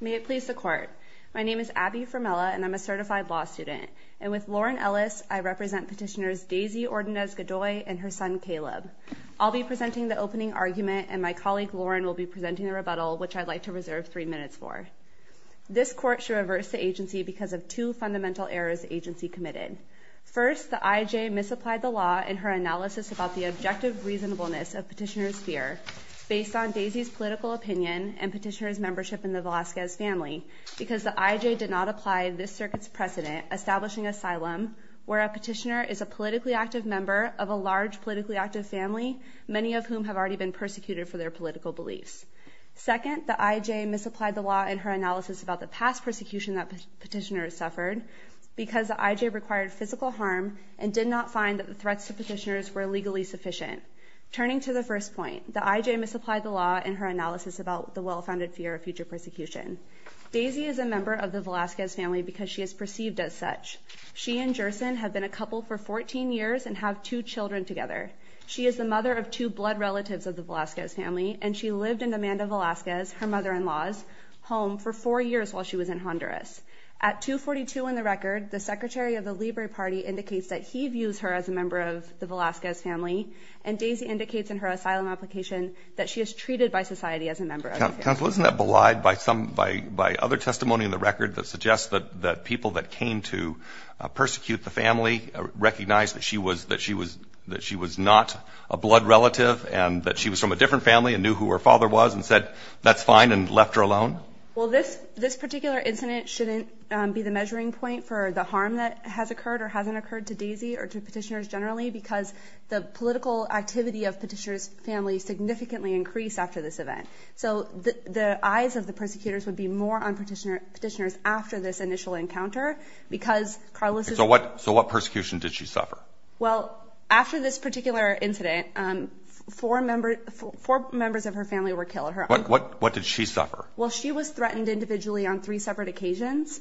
May it please the court. My name is Abby Formella and I'm a certified law student and with Lauren Ellis I represent petitioners Deisy Ordonez-Godoy and her son Caleb. I'll be presenting the opening argument and my colleague Lauren will be presenting the rebuttal which I'd like to reserve three minutes for. This court should reverse the agency because of two fundamental errors agency committed. First the IJ misapplied the law in her analysis about the objective reasonableness of Deisy's political opinion and petitioners membership in the Velazquez family because the IJ did not apply this circuit's precedent establishing asylum where a petitioner is a politically active member of a large politically active family many of whom have already been persecuted for their political beliefs. Second the IJ misapplied the law in her analysis about the past persecution that petitioners suffered because the IJ required physical harm and did not find that the threats to petitioners were legally sufficient. Turning to the first point the IJ misapplied the law in her analysis about the well-founded fear of future persecution. Deisy is a member of the Velazquez family because she is perceived as such. She and Gerson have been a couple for 14 years and have two children together. She is the mother of two blood relatives of the Velazquez family and she lived in Amanda Velazquez her mother-in-law's home for four years while she was in Honduras. At 242 in the record the Secretary of the Libre Party indicates that he views her as a member of the Velazquez family and Daisy indicates in her asylum application that she is treated by society as a member. Counsel isn't that belied by some by by other testimony in the record that suggests that that people that came to persecute the family recognized that she was that she was that she was not a blood relative and that she was from a different family and knew who her father was and said that's fine and left her alone? Well this this particular incident shouldn't be the measuring point for the harm that has occurred or hasn't occurred to Daisy or to petitioners generally because the political activity of petitioners family significantly increased after this event. So the eyes of the persecutors would be more on petitioner petitioners after this initial encounter because Carlos. So what so what persecution did she suffer? Well after this particular incident four members four members of her family were killed. What what what did she suffer? Well she was threatened individually on three separate occasions.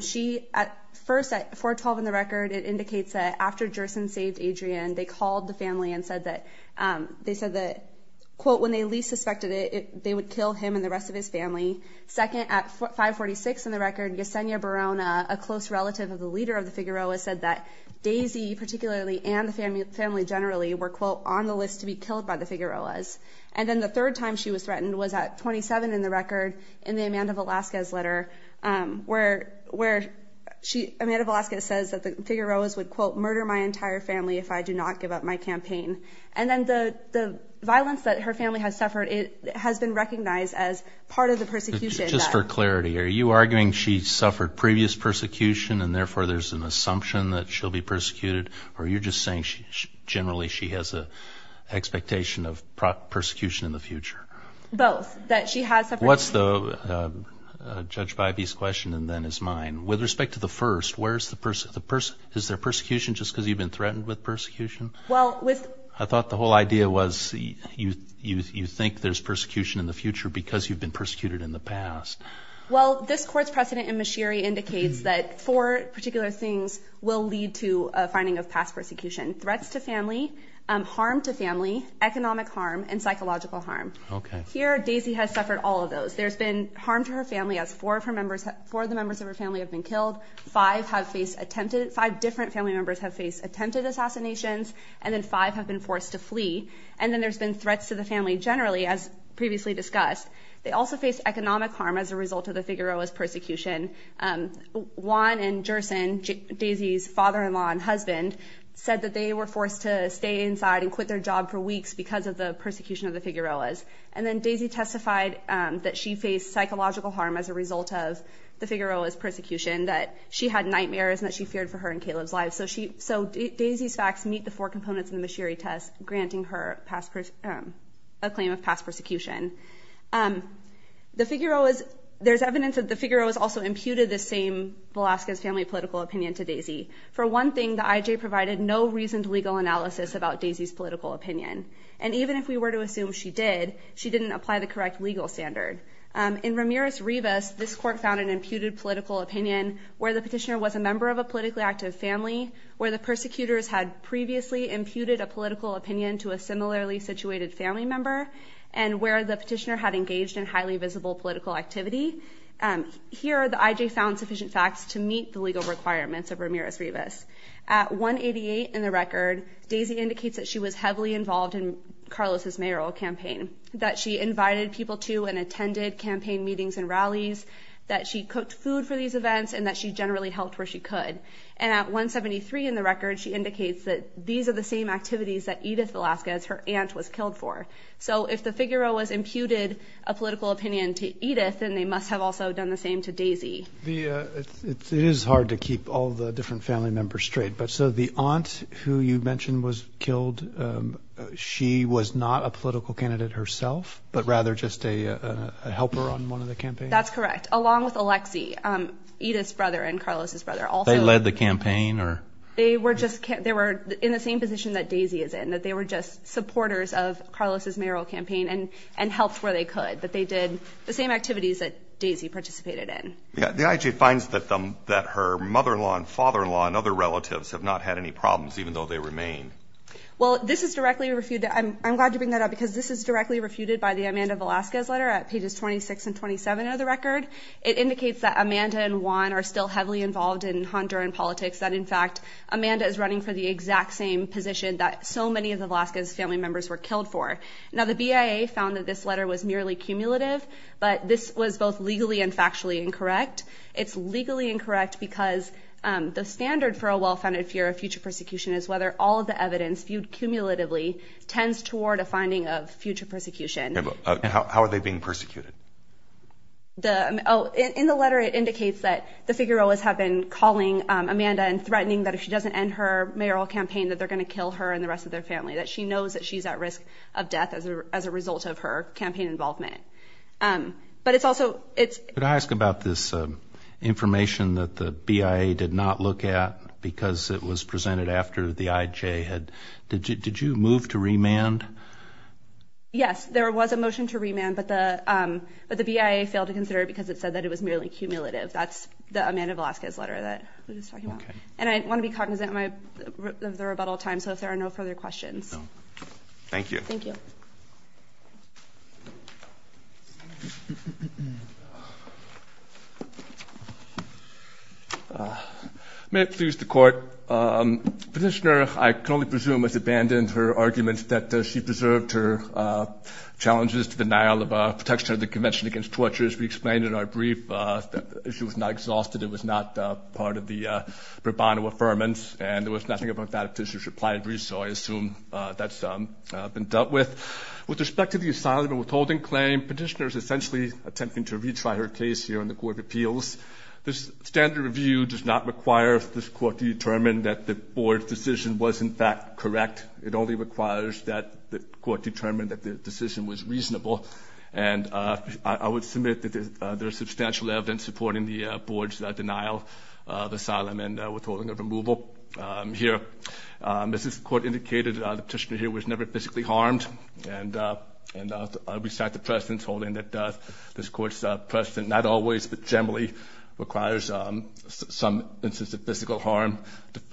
She at first at 412 in the record it indicates that after Gerson saved Adrian they called the family and said that they said that quote when they least suspected it they would kill him and the rest of his family. Second at 546 in the record Yesenia Barona a close relative of the leader of the Figueroa said that Daisy particularly and the family family generally were quote on the list to be killed by the Figueroas. And then the third time she was threatened was at 27 in the record in the Amanda Velazquez letter where where she Amanda Velazquez says that the Figueroas would quote murder my entire family if I do not give up my campaign. And then the the violence that her family has suffered it has been recognized as part of the persecution. Just for clarity are you arguing she suffered previous persecution and therefore there's an assumption that she'll be persecuted or you're just saying she generally she has a expectation of prosecution in the future? Both that she has. What's the judge Biby's question and then is mine. With respect to the first where's the person the person is there persecution just because you've been threatened with persecution? Well with. I thought the whole idea was you you think there's persecution in the future because you've been persecuted in the past. Well this court's precedent in Mashiri indicates that four particular things will lead to a finding of past persecution. Threats to family, harm to family, economic harm, and psychological harm. Okay. Here Daisy has suffered all of those. There's been harm to her family as four of her members, four of the members of her family have been killed, five have faced attempted, five different family members have faced attempted assassinations, and then five have been forced to flee, and then there's been threats to the family generally as previously discussed. They also face economic harm as a result of the Figueroas persecution. Juan and Gerson, Daisy's father-in-law and husband, said that they were forced to stay inside and And then Daisy testified that she faced psychological harm as a result of the Figueroas persecution, that she had nightmares, and that she feared for her and Caleb's lives. So Daisy's facts meet the four components in the Mashiri test, granting her a claim of past persecution. The Figueroas, there's evidence that the Figueroas also imputed the same Velasquez family political opinion to Daisy. For one thing, the IJ provided no reasoned legal analysis about Daisy's political opinion, and even if we were to assume she did, she didn't apply the correct legal standard. In Ramirez-Rivas, this court found an imputed political opinion where the petitioner was a member of a politically active family, where the persecutors had previously imputed a political opinion to a similarly situated family member, and where the petitioner had engaged in highly visible political activity. Here, the IJ found sufficient facts to meet the legal requirements of Ramirez-Rivas. At 188 in the record, Daisy indicates that she was heavily involved in Carlos's mayoral campaign, that she invited people to and attended campaign meetings and rallies, that she cooked food for these events, and that she generally helped where she could. And at 173 in the record, she indicates that these are the same activities that Edith Velasquez, her aunt, was killed for. So if the Figueroas imputed a political opinion to Edith, then they must have also done the same to Daisy. It is hard to keep all the different family members straight, but so the aunt who you mentioned was killed, she was not a political candidate herself, but rather just a helper on one of the campaigns? That's correct, along with Alexi, Edith's brother and Carlos's brother. They led the campaign? They were just, they were in the same position that Daisy is in, that they were just supporters of Carlos's mayoral campaign and and helped where they could, that they did the same activities that Daisy participated in. Yeah, the IJ finds that her mother-in-law and father-in-law and other relatives have not had any problems, even though they remain. Well, this is directly refuted, I'm glad to bring that up, because this is directly refuted by the Amanda Velasquez letter at pages 26 and 27 of the record. It indicates that Amanda and Juan are still heavily involved in Honduran politics, that in fact, Amanda is running for the exact same position that so many of the Velasquez family members were killed for. Now, the BIA found that this letter was merely cumulative, but this was both incorrect, because the standard for a well-founded fear of future persecution is whether all of the evidence viewed cumulatively tends toward a finding of future persecution. How are they being persecuted? In the letter, it indicates that the Figueroas have been calling Amanda and threatening that if she doesn't end her mayoral campaign, that they're gonna kill her and the rest of their family, that she knows that she's at risk of death as a result of her information that the BIA did not look at, because it was presented after the IJ had... Did you move to remand? Yes, there was a motion to remand, but the BIA failed to consider it, because it said that it was merely cumulative. That's the Amanda Velasquez letter that we were just talking about. And I want to be cognizant of the rebuttal time, so if there are no further questions. Thank you. May it please the Court. Petitioner, I can only presume, has abandoned her arguments that she preserved her challenges to the denial of protection of the Convention against Torture, as we explained in our brief. The issue was not exhausted, it was not part of the pro bono affirmance, and there I assume that's been dealt with. With respect to the asylum and withholding claim, Petitioner is essentially attempting to retry her case here in the Court of Appeals. This standard review does not require this Court to determine that the Board's decision was, in fact, correct. It only requires that the Court determine that the decision was reasonable, and I would submit that there's substantial evidence supporting the Board's denial of asylum and withholding of removal. Here, as this Court indicated, Petitioner here was never physically harmed. And I'll restate the precedent holding that this Court's precedent, not always, but generally, requires some instance of physical harm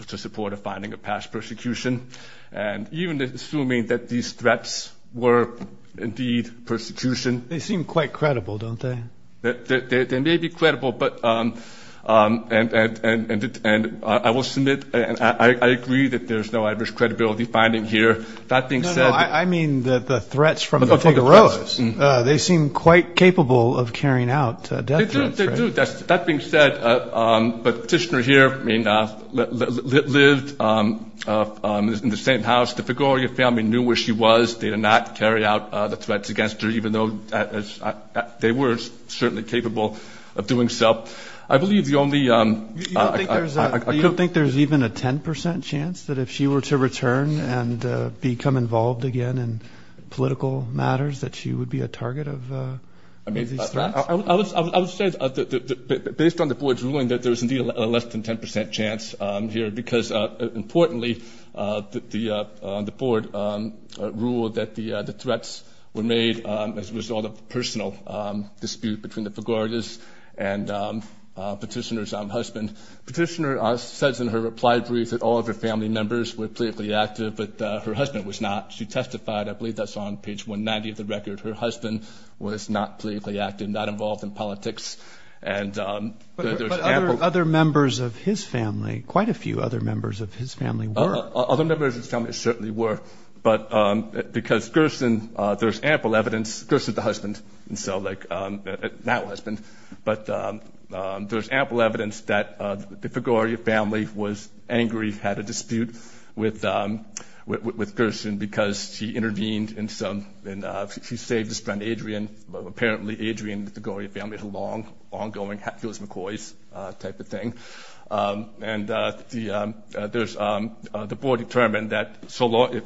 to support a finding of past persecution. And even assuming that these threats were, indeed, persecution. They seem quite credible, don't they? They may be credible, but, and I will submit, and I agree that there's no adverse credibility finding here. That being said... No, no, I mean the threats from the Figueroas. They seem quite capable of carrying out death threats, right? They do, they do. That being said, Petitioner here lived in the same house. The Figueroa family knew where she was. They did not carry out the threats against her, even though they were certainly capable of doing so. I believe the only... You don't think there's even a 10% chance that if she were to return and become involved again in political matters, that she would be a target of these threats? I would say, based on the Board's ruling, that there's, indeed, a less than 10% chance here. Because, importantly, the Board ruled that the threats were made as a result of Petitioner's husband. Petitioner says in her reply brief that all of her family members were politically active, but her husband was not. She testified, I believe that's on page 190 of the record, her husband was not politically active, not involved in politics, and... But other members of his family, quite a few other members of his family were. Other members of his family certainly were, but because Gerson, there's ample evidence, Gerson's the husband, and so, like, that husband, but there's ample evidence that the Figueria family was angry, had a dispute with Gerson, because she intervened in some... She saved his friend, Adrian. Apparently, Adrian and the Figueria family had a long, ongoing... It was McCoy's type of thing. And there's... The Board determined that so long...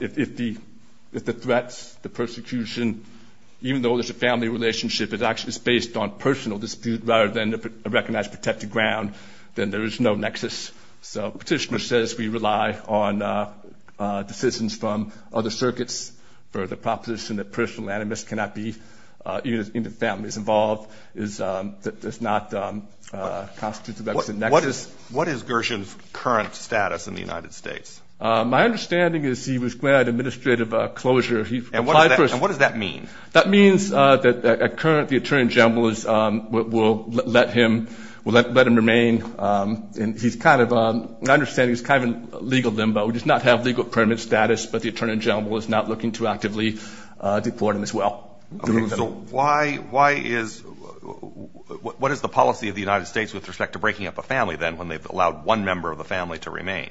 If the threats, the persecution, even though there's a family relationship, it actually is based on a personal dispute rather than a recognized protected ground, then there is no nexus. So Petitioner says we rely on decisions from other circuits for the proposition that personal animus cannot be... Even if the family is involved, it does not constitute a nexus. What is Gerson's current status in the United States? My understanding is he was granted administrative closure. And what does that mean? That means that at current, the Attorney General will let him remain. And he's kind of... My understanding is he's kind of in legal limbo. He does not have legal permanent status, but the Attorney General is not looking to actively deport him as well. So why is... What is the policy of the United States with respect to breaking up a family, then, when they've allowed one member of the family to remain?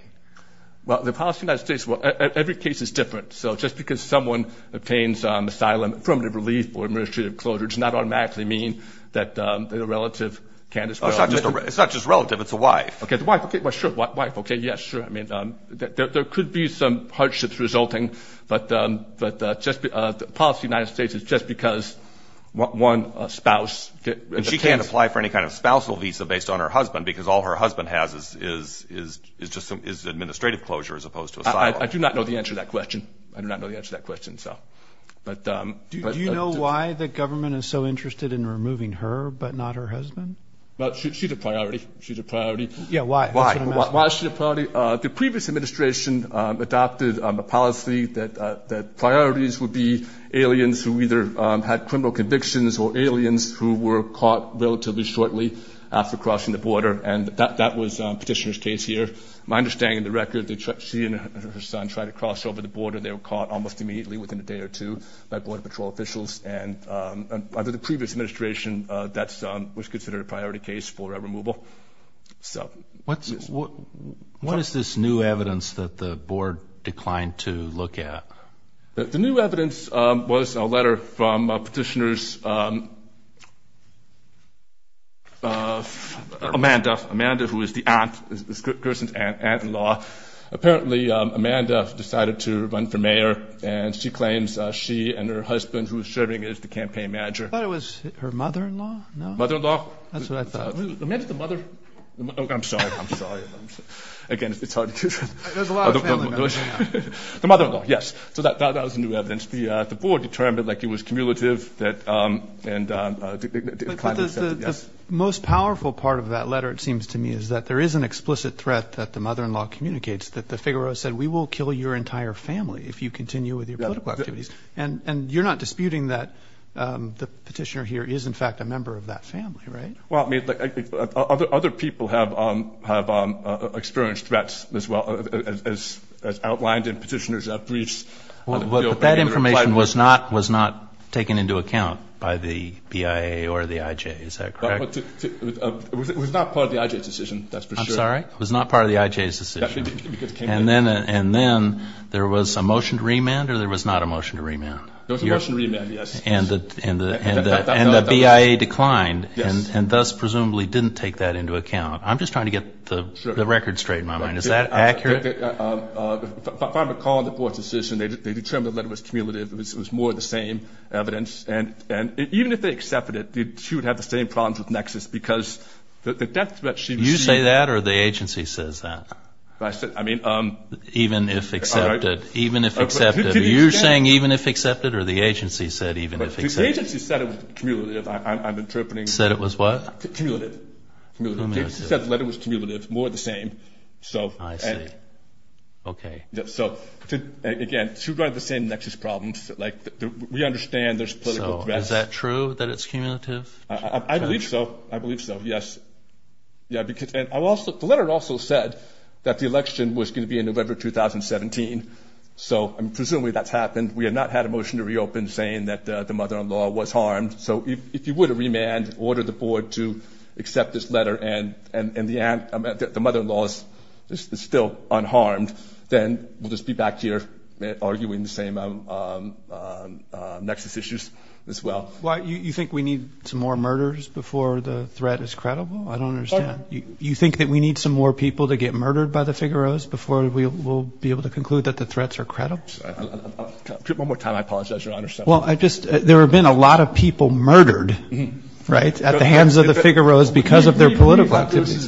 Well, the policy of the United States... Every case is different. So just because someone obtains asylum, affirmative relief, or administrative closure, does not automatically mean that a relative can... It's not just a relative. It's a wife. Okay, the wife. Sure, wife. Yes, sure. There could be some hardships resulting, but the policy of the United States is just because one spouse... And she can't apply for any kind of spousal visa based on her husband, because all her husband has is administrative closure as opposed to asylum. I do not know the answer to that question. I do not know the answer to that question. Do you know why the government is so interested in removing her but not her husband? Well, she's a priority. She's a priority. Yeah, why? That's what I'm asking. Why is she a priority? The previous administration adopted a policy that priorities would be aliens who either had criminal convictions or aliens who were caught relatively shortly after crossing the border, and that was Petitioner's case here. My understanding of the record, she and her son tried to cross over the border. They were caught almost immediately, within a day or two, by Border Patrol officials, and under the previous administration, that was considered a priority case for removal. What is this new evidence that the board declined to look at? The new evidence was a letter from Petitioner's Amanda. Amanda, who is the aunt, is Kirsten's aunt-in-law. Apparently, Amanda decided to run for mayor, and she claims she and her husband, who is serving as the campaign manager. I thought it was her mother-in-law. Mother-in-law? That's what I thought. Amanda's the mother. I'm sorry. I'm sorry. Again, it's hard to do this. There's a lot of family members. The mother-in-law, yes. So that was the new evidence. The board determined it was cumulative and declined to accept it. The most powerful part of that letter, it seems to me, is that there is an explicit threat that the mother-in-law communicates, that the Figueroa said, we will kill your entire family if you continue with your political activities. And you're not disputing that the petitioner here is, in fact, a member of that family, right? Other people have experienced threats as outlined in Petitioner's briefs. But that information was not taken into account by the BIA or the IJ, is that correct? It was not part of the IJ's decision, that's for sure. I'm sorry? It was not part of the IJ's decision. And then there was a motion to remand or there was not a motion to remand? There was a motion to remand, yes. And the BIA declined and thus presumably didn't take that into account. I'm just trying to get the record straight in my mind. Is that accurate? If I recall the board's decision, they determined the letter was cumulative. It was more of the same evidence. And even if they accepted it, she would have the same problems with Nexus because the death threat she received. You say that or the agency says that? I mean, even if accepted. Even if accepted. Are you saying even if accepted or the agency said even if accepted? The agency said it was cumulative. I'm interpreting. Said it was what? Cumulative. Cumulative. The agency said the letter was cumulative, more of the same. I see. Okay. Again, two of the same Nexus problems. We understand there's political threats. Is that true that it's cumulative? I believe so. I believe so, yes. The letter also said that the election was going to be in November 2017. So presumably that's happened. We have not had a motion to reopen saying that the mother-in-law was harmed. So if you were to remand, order the board to accept this letter and the mother-in-law is still unharmed, then we'll just be back here arguing the same Nexus issues as well. You think we need some more murders before the threat is credible? I don't understand. You think that we need some more people to get murdered by the Figaro's before we'll be able to conclude that the threats are credible? One more time. I apologize, Your Honor. Well, there have been a lot of people murdered, right, at the hands of the Figaro's because of their political activities.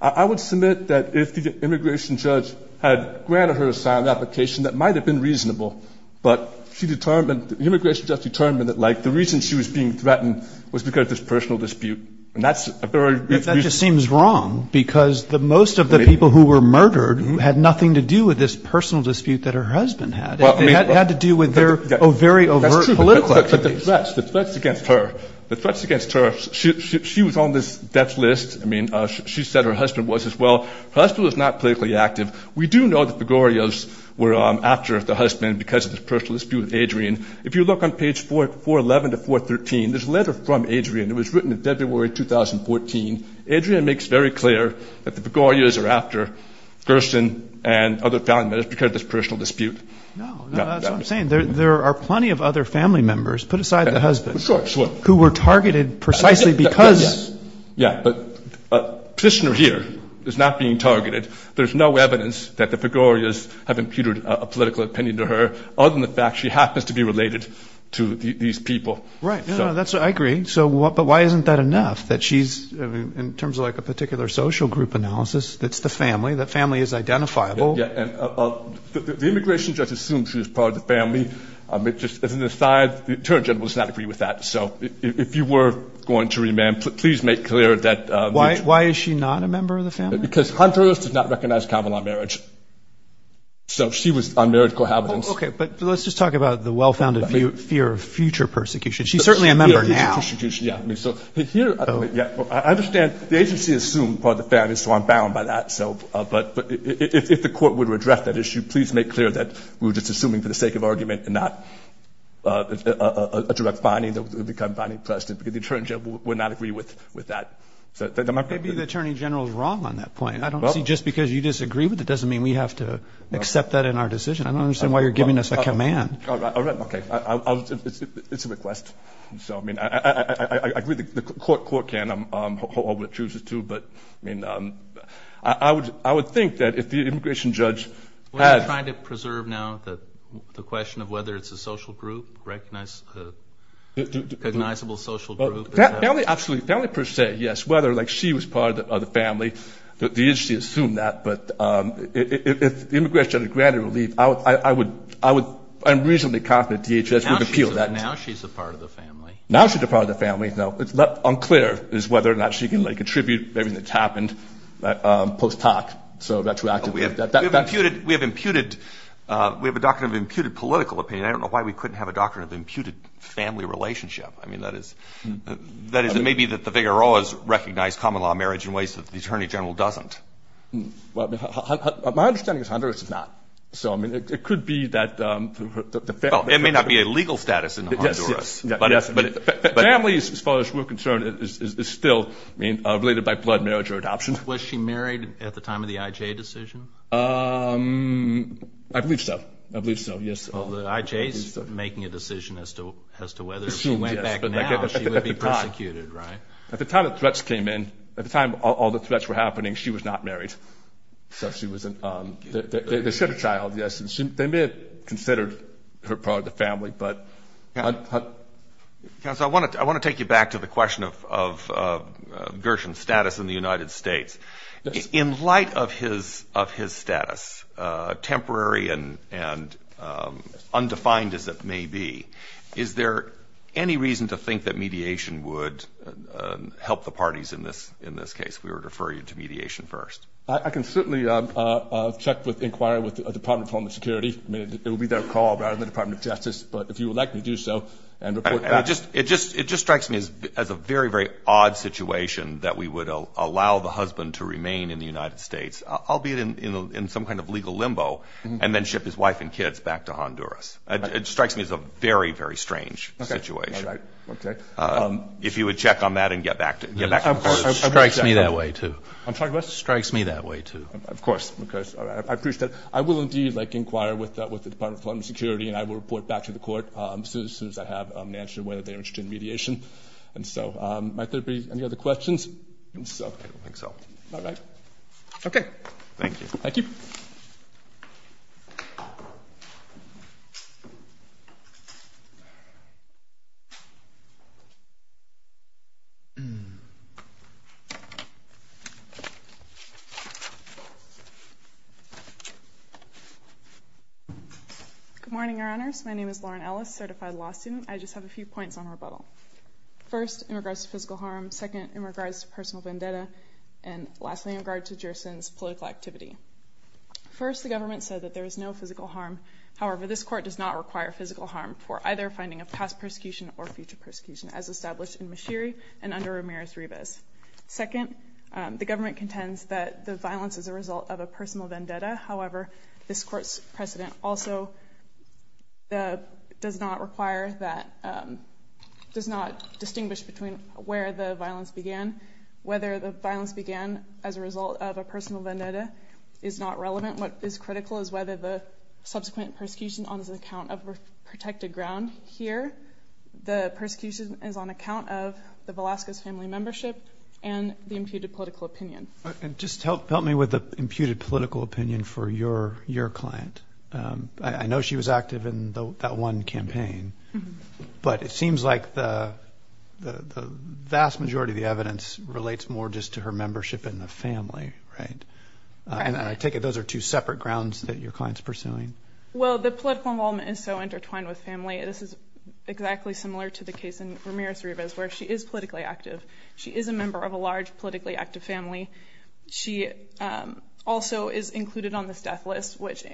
I would submit that if the immigration judge had granted her a signed application, that might have been reasonable. But the immigration judge determined that, like, the reason she was being threatened was because of this personal dispute. That just seems wrong because most of the people who were murdered had nothing to do with this personal dispute that her husband had. It had to do with their very overt political activities. That's true, but the threats against her, the threats against her, she was on this death list. I mean, she said her husband was as well. Her husband was not politically active. We do know the Figaro's were after the husband because of this personal dispute with Adrian. If you look on page 411 to 413, there's a letter from Adrian. It was written in February 2014. Adrian makes very clear that the Figaro's are after Gerson and other family members because of this personal dispute. No, no, that's what I'm saying. There are plenty of other family members, put aside the husband, who were targeted precisely because. Yeah, but Kishner here is not being targeted. There's no evidence that the Figaro's have imputed a political opinion to her other than the fact she happens to be related to these people. Right, no, no, that's what I agree. But why isn't that enough that she's, in terms of like a particular social group analysis, that's the family, that family is identifiable. Yeah, and the immigration judge assumes she's part of the family. As an aside, the attorney general does not agree with that. So if you were going to remand, please make clear that. Why is she not a member of the family? Because Honduras does not recognize Camelot marriage. So she was unmarried cohabitants. Okay, but let's just talk about the well-founded fear of future persecution. She's certainly a member now. Yeah, so here, I understand the agency assumed part of the family, so I'm bound by that. But if the court were to address that issue, please make clear that we're just assuming for the sake of argument and not a direct finding. It would become finding precedent because the attorney general would not agree with that. Maybe the attorney general is wrong on that point. I don't see just because you disagree with it doesn't mean we have to accept that in our decision. I don't understand why you're giving us a command. All right, okay. It's a request. So, I mean, I agree the court can. I'm hopeful it chooses to. But, I mean, I would think that if the immigration judge had- Are you trying to preserve now the question of whether it's a social group, recognizable social group? Absolutely, family per se, yes. Whether, like, she was part of the family, the agency assumed that. But if the immigration judge granted relief, I'm reasonably confident DHS would appeal that. Now she's a part of the family. Now she's a part of the family, no. What's unclear is whether or not she can, like, contribute to everything that's happened post hoc, so retroactively. We have a doctrine of imputed political opinion. I don't know why we couldn't have a doctrine of imputed family relationship. I mean, that is, it may be that the vigoroas recognize common law marriage in ways that the attorney general doesn't. Well, my understanding is Honduras does not. So, I mean, it could be that the family- Well, it may not be a legal status in Honduras. Yes, but families, as far as we're concerned, is still, I mean, related by blood, marriage, or adoption. Was she married at the time of the IJ decision? I believe so. I believe so, yes. Well, the IJ is making a decision as to whether, if she went back now, she would be persecuted, right? At the time the threats came in, at the time all the threats were happening, she was not married. So she was an- They sent a child, yes. They may have considered her part of the family, but- Counsel, I want to take you back to the question of Gershon's status in the United States. In light of his status, temporary and undefined as it may be, is there any reason to think that mediation would help the parties in this case? We would refer you to mediation first. I can certainly check with, inquire with the Department of Homeland Security. It would be their call rather than the Department of Justice. But if you would like me to do so and report back- It just strikes me as a very, very odd situation that we would allow the husband to remain in the United States, albeit in some kind of legal limbo, and then ship his wife and kids back to Honduras. It strikes me as a very, very strange situation. Okay. If you would check on that and get back to- It strikes me that way, too. I'm sorry, what? It strikes me that way, too. Of course. I appreciate it. I will indeed inquire with the Department of Homeland Security, and I will report back to the court as soon as I have an answer whether they are interested in mediation. And so, might there be any other questions? I don't think so. All right. Okay. Thank you. Thank you. Good morning, Your Honors. My name is Lauren Ellis, certified law student. I just have a few points on rebuttal. First, in regards to physical harm. Second, in regards to personal vendetta. And lastly, in regards to Gerson's political activity. First, the government said that there is no physical harm. However, this court does not require physical harm for either finding of past persecution or future persecution, as established in Mashiri and under Ramirez-Rivas. Second, the government contends that the violence is a result of a personal vendetta. However, this court's precedent also does not require that- does not distinguish between where the violence began. Whether the violence began as a result of a personal vendetta is not relevant. What is critical is whether the subsequent persecution is on account of protected ground. Here, the persecution is on account of the Velasquez family membership and the imputed political opinion. Just help me with the imputed political opinion for your client. I know she was active in that one campaign. But it seems like the vast majority of the evidence relates more just to her membership in the family, right? And I take it those are two separate grounds that your client's pursuing. Well, the political involvement is so intertwined with family. This is exactly similar to the case in Ramirez-Rivas, where she is politically active. She is a member of a large politically active family. She also is included on this death list, which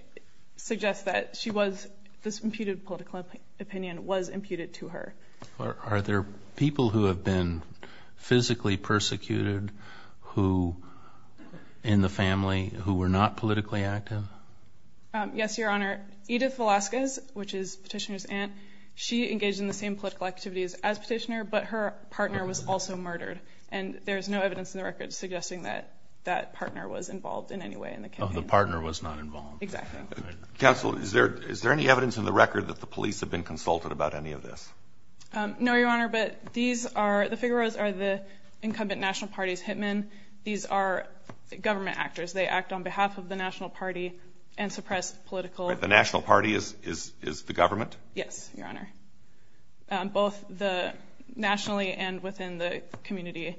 suggests that she was- this imputed political opinion was imputed to her. Are there people who have been physically persecuted in the family who were not politically active? Yes, Your Honor. Edith Velasquez, which is Petitioner's aunt, she engaged in the same political activities as Petitioner, but her partner was also murdered. And there is no evidence in the record suggesting that that partner was involved in any way in the campaign. Oh, the partner was not involved. Exactly. Counsel, is there any evidence in the record that the police have been consulted about any of this? No, Your Honor, but these are-the Figueros are the incumbent national party's hitmen. These are government actors. They act on behalf of the national party and suppress political- But the national party is the government? Yes, Your Honor. Both nationally and within the community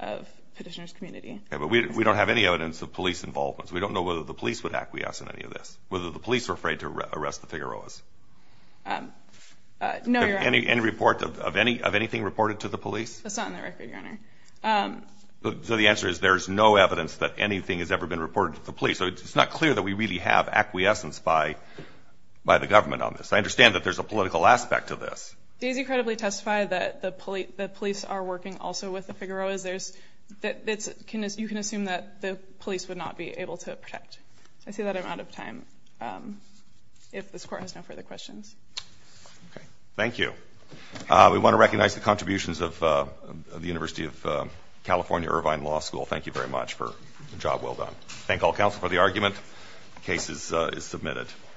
of Petitioner's community. But we don't have any evidence of police involvement. We don't know whether the police would acquiesce in any of this, whether the police were afraid to arrest the Figueros. No, Your Honor. Any report of anything reported to the police? That's not in the record, Your Honor. So the answer is there's no evidence that anything has ever been reported to the police. It's not clear that we really have acquiescence by the government on this. I understand that there's a political aspect to this. Daisy credibly testified that the police are working also with the Figueros. You can assume that the police would not be able to protect. I see that I'm out of time. If this Court has no further questions. Thank you. We want to recognize the contributions of the University of California Irvine Law School. Thank you very much for a job well done. Thank all counsel for the argument. The case is submitted.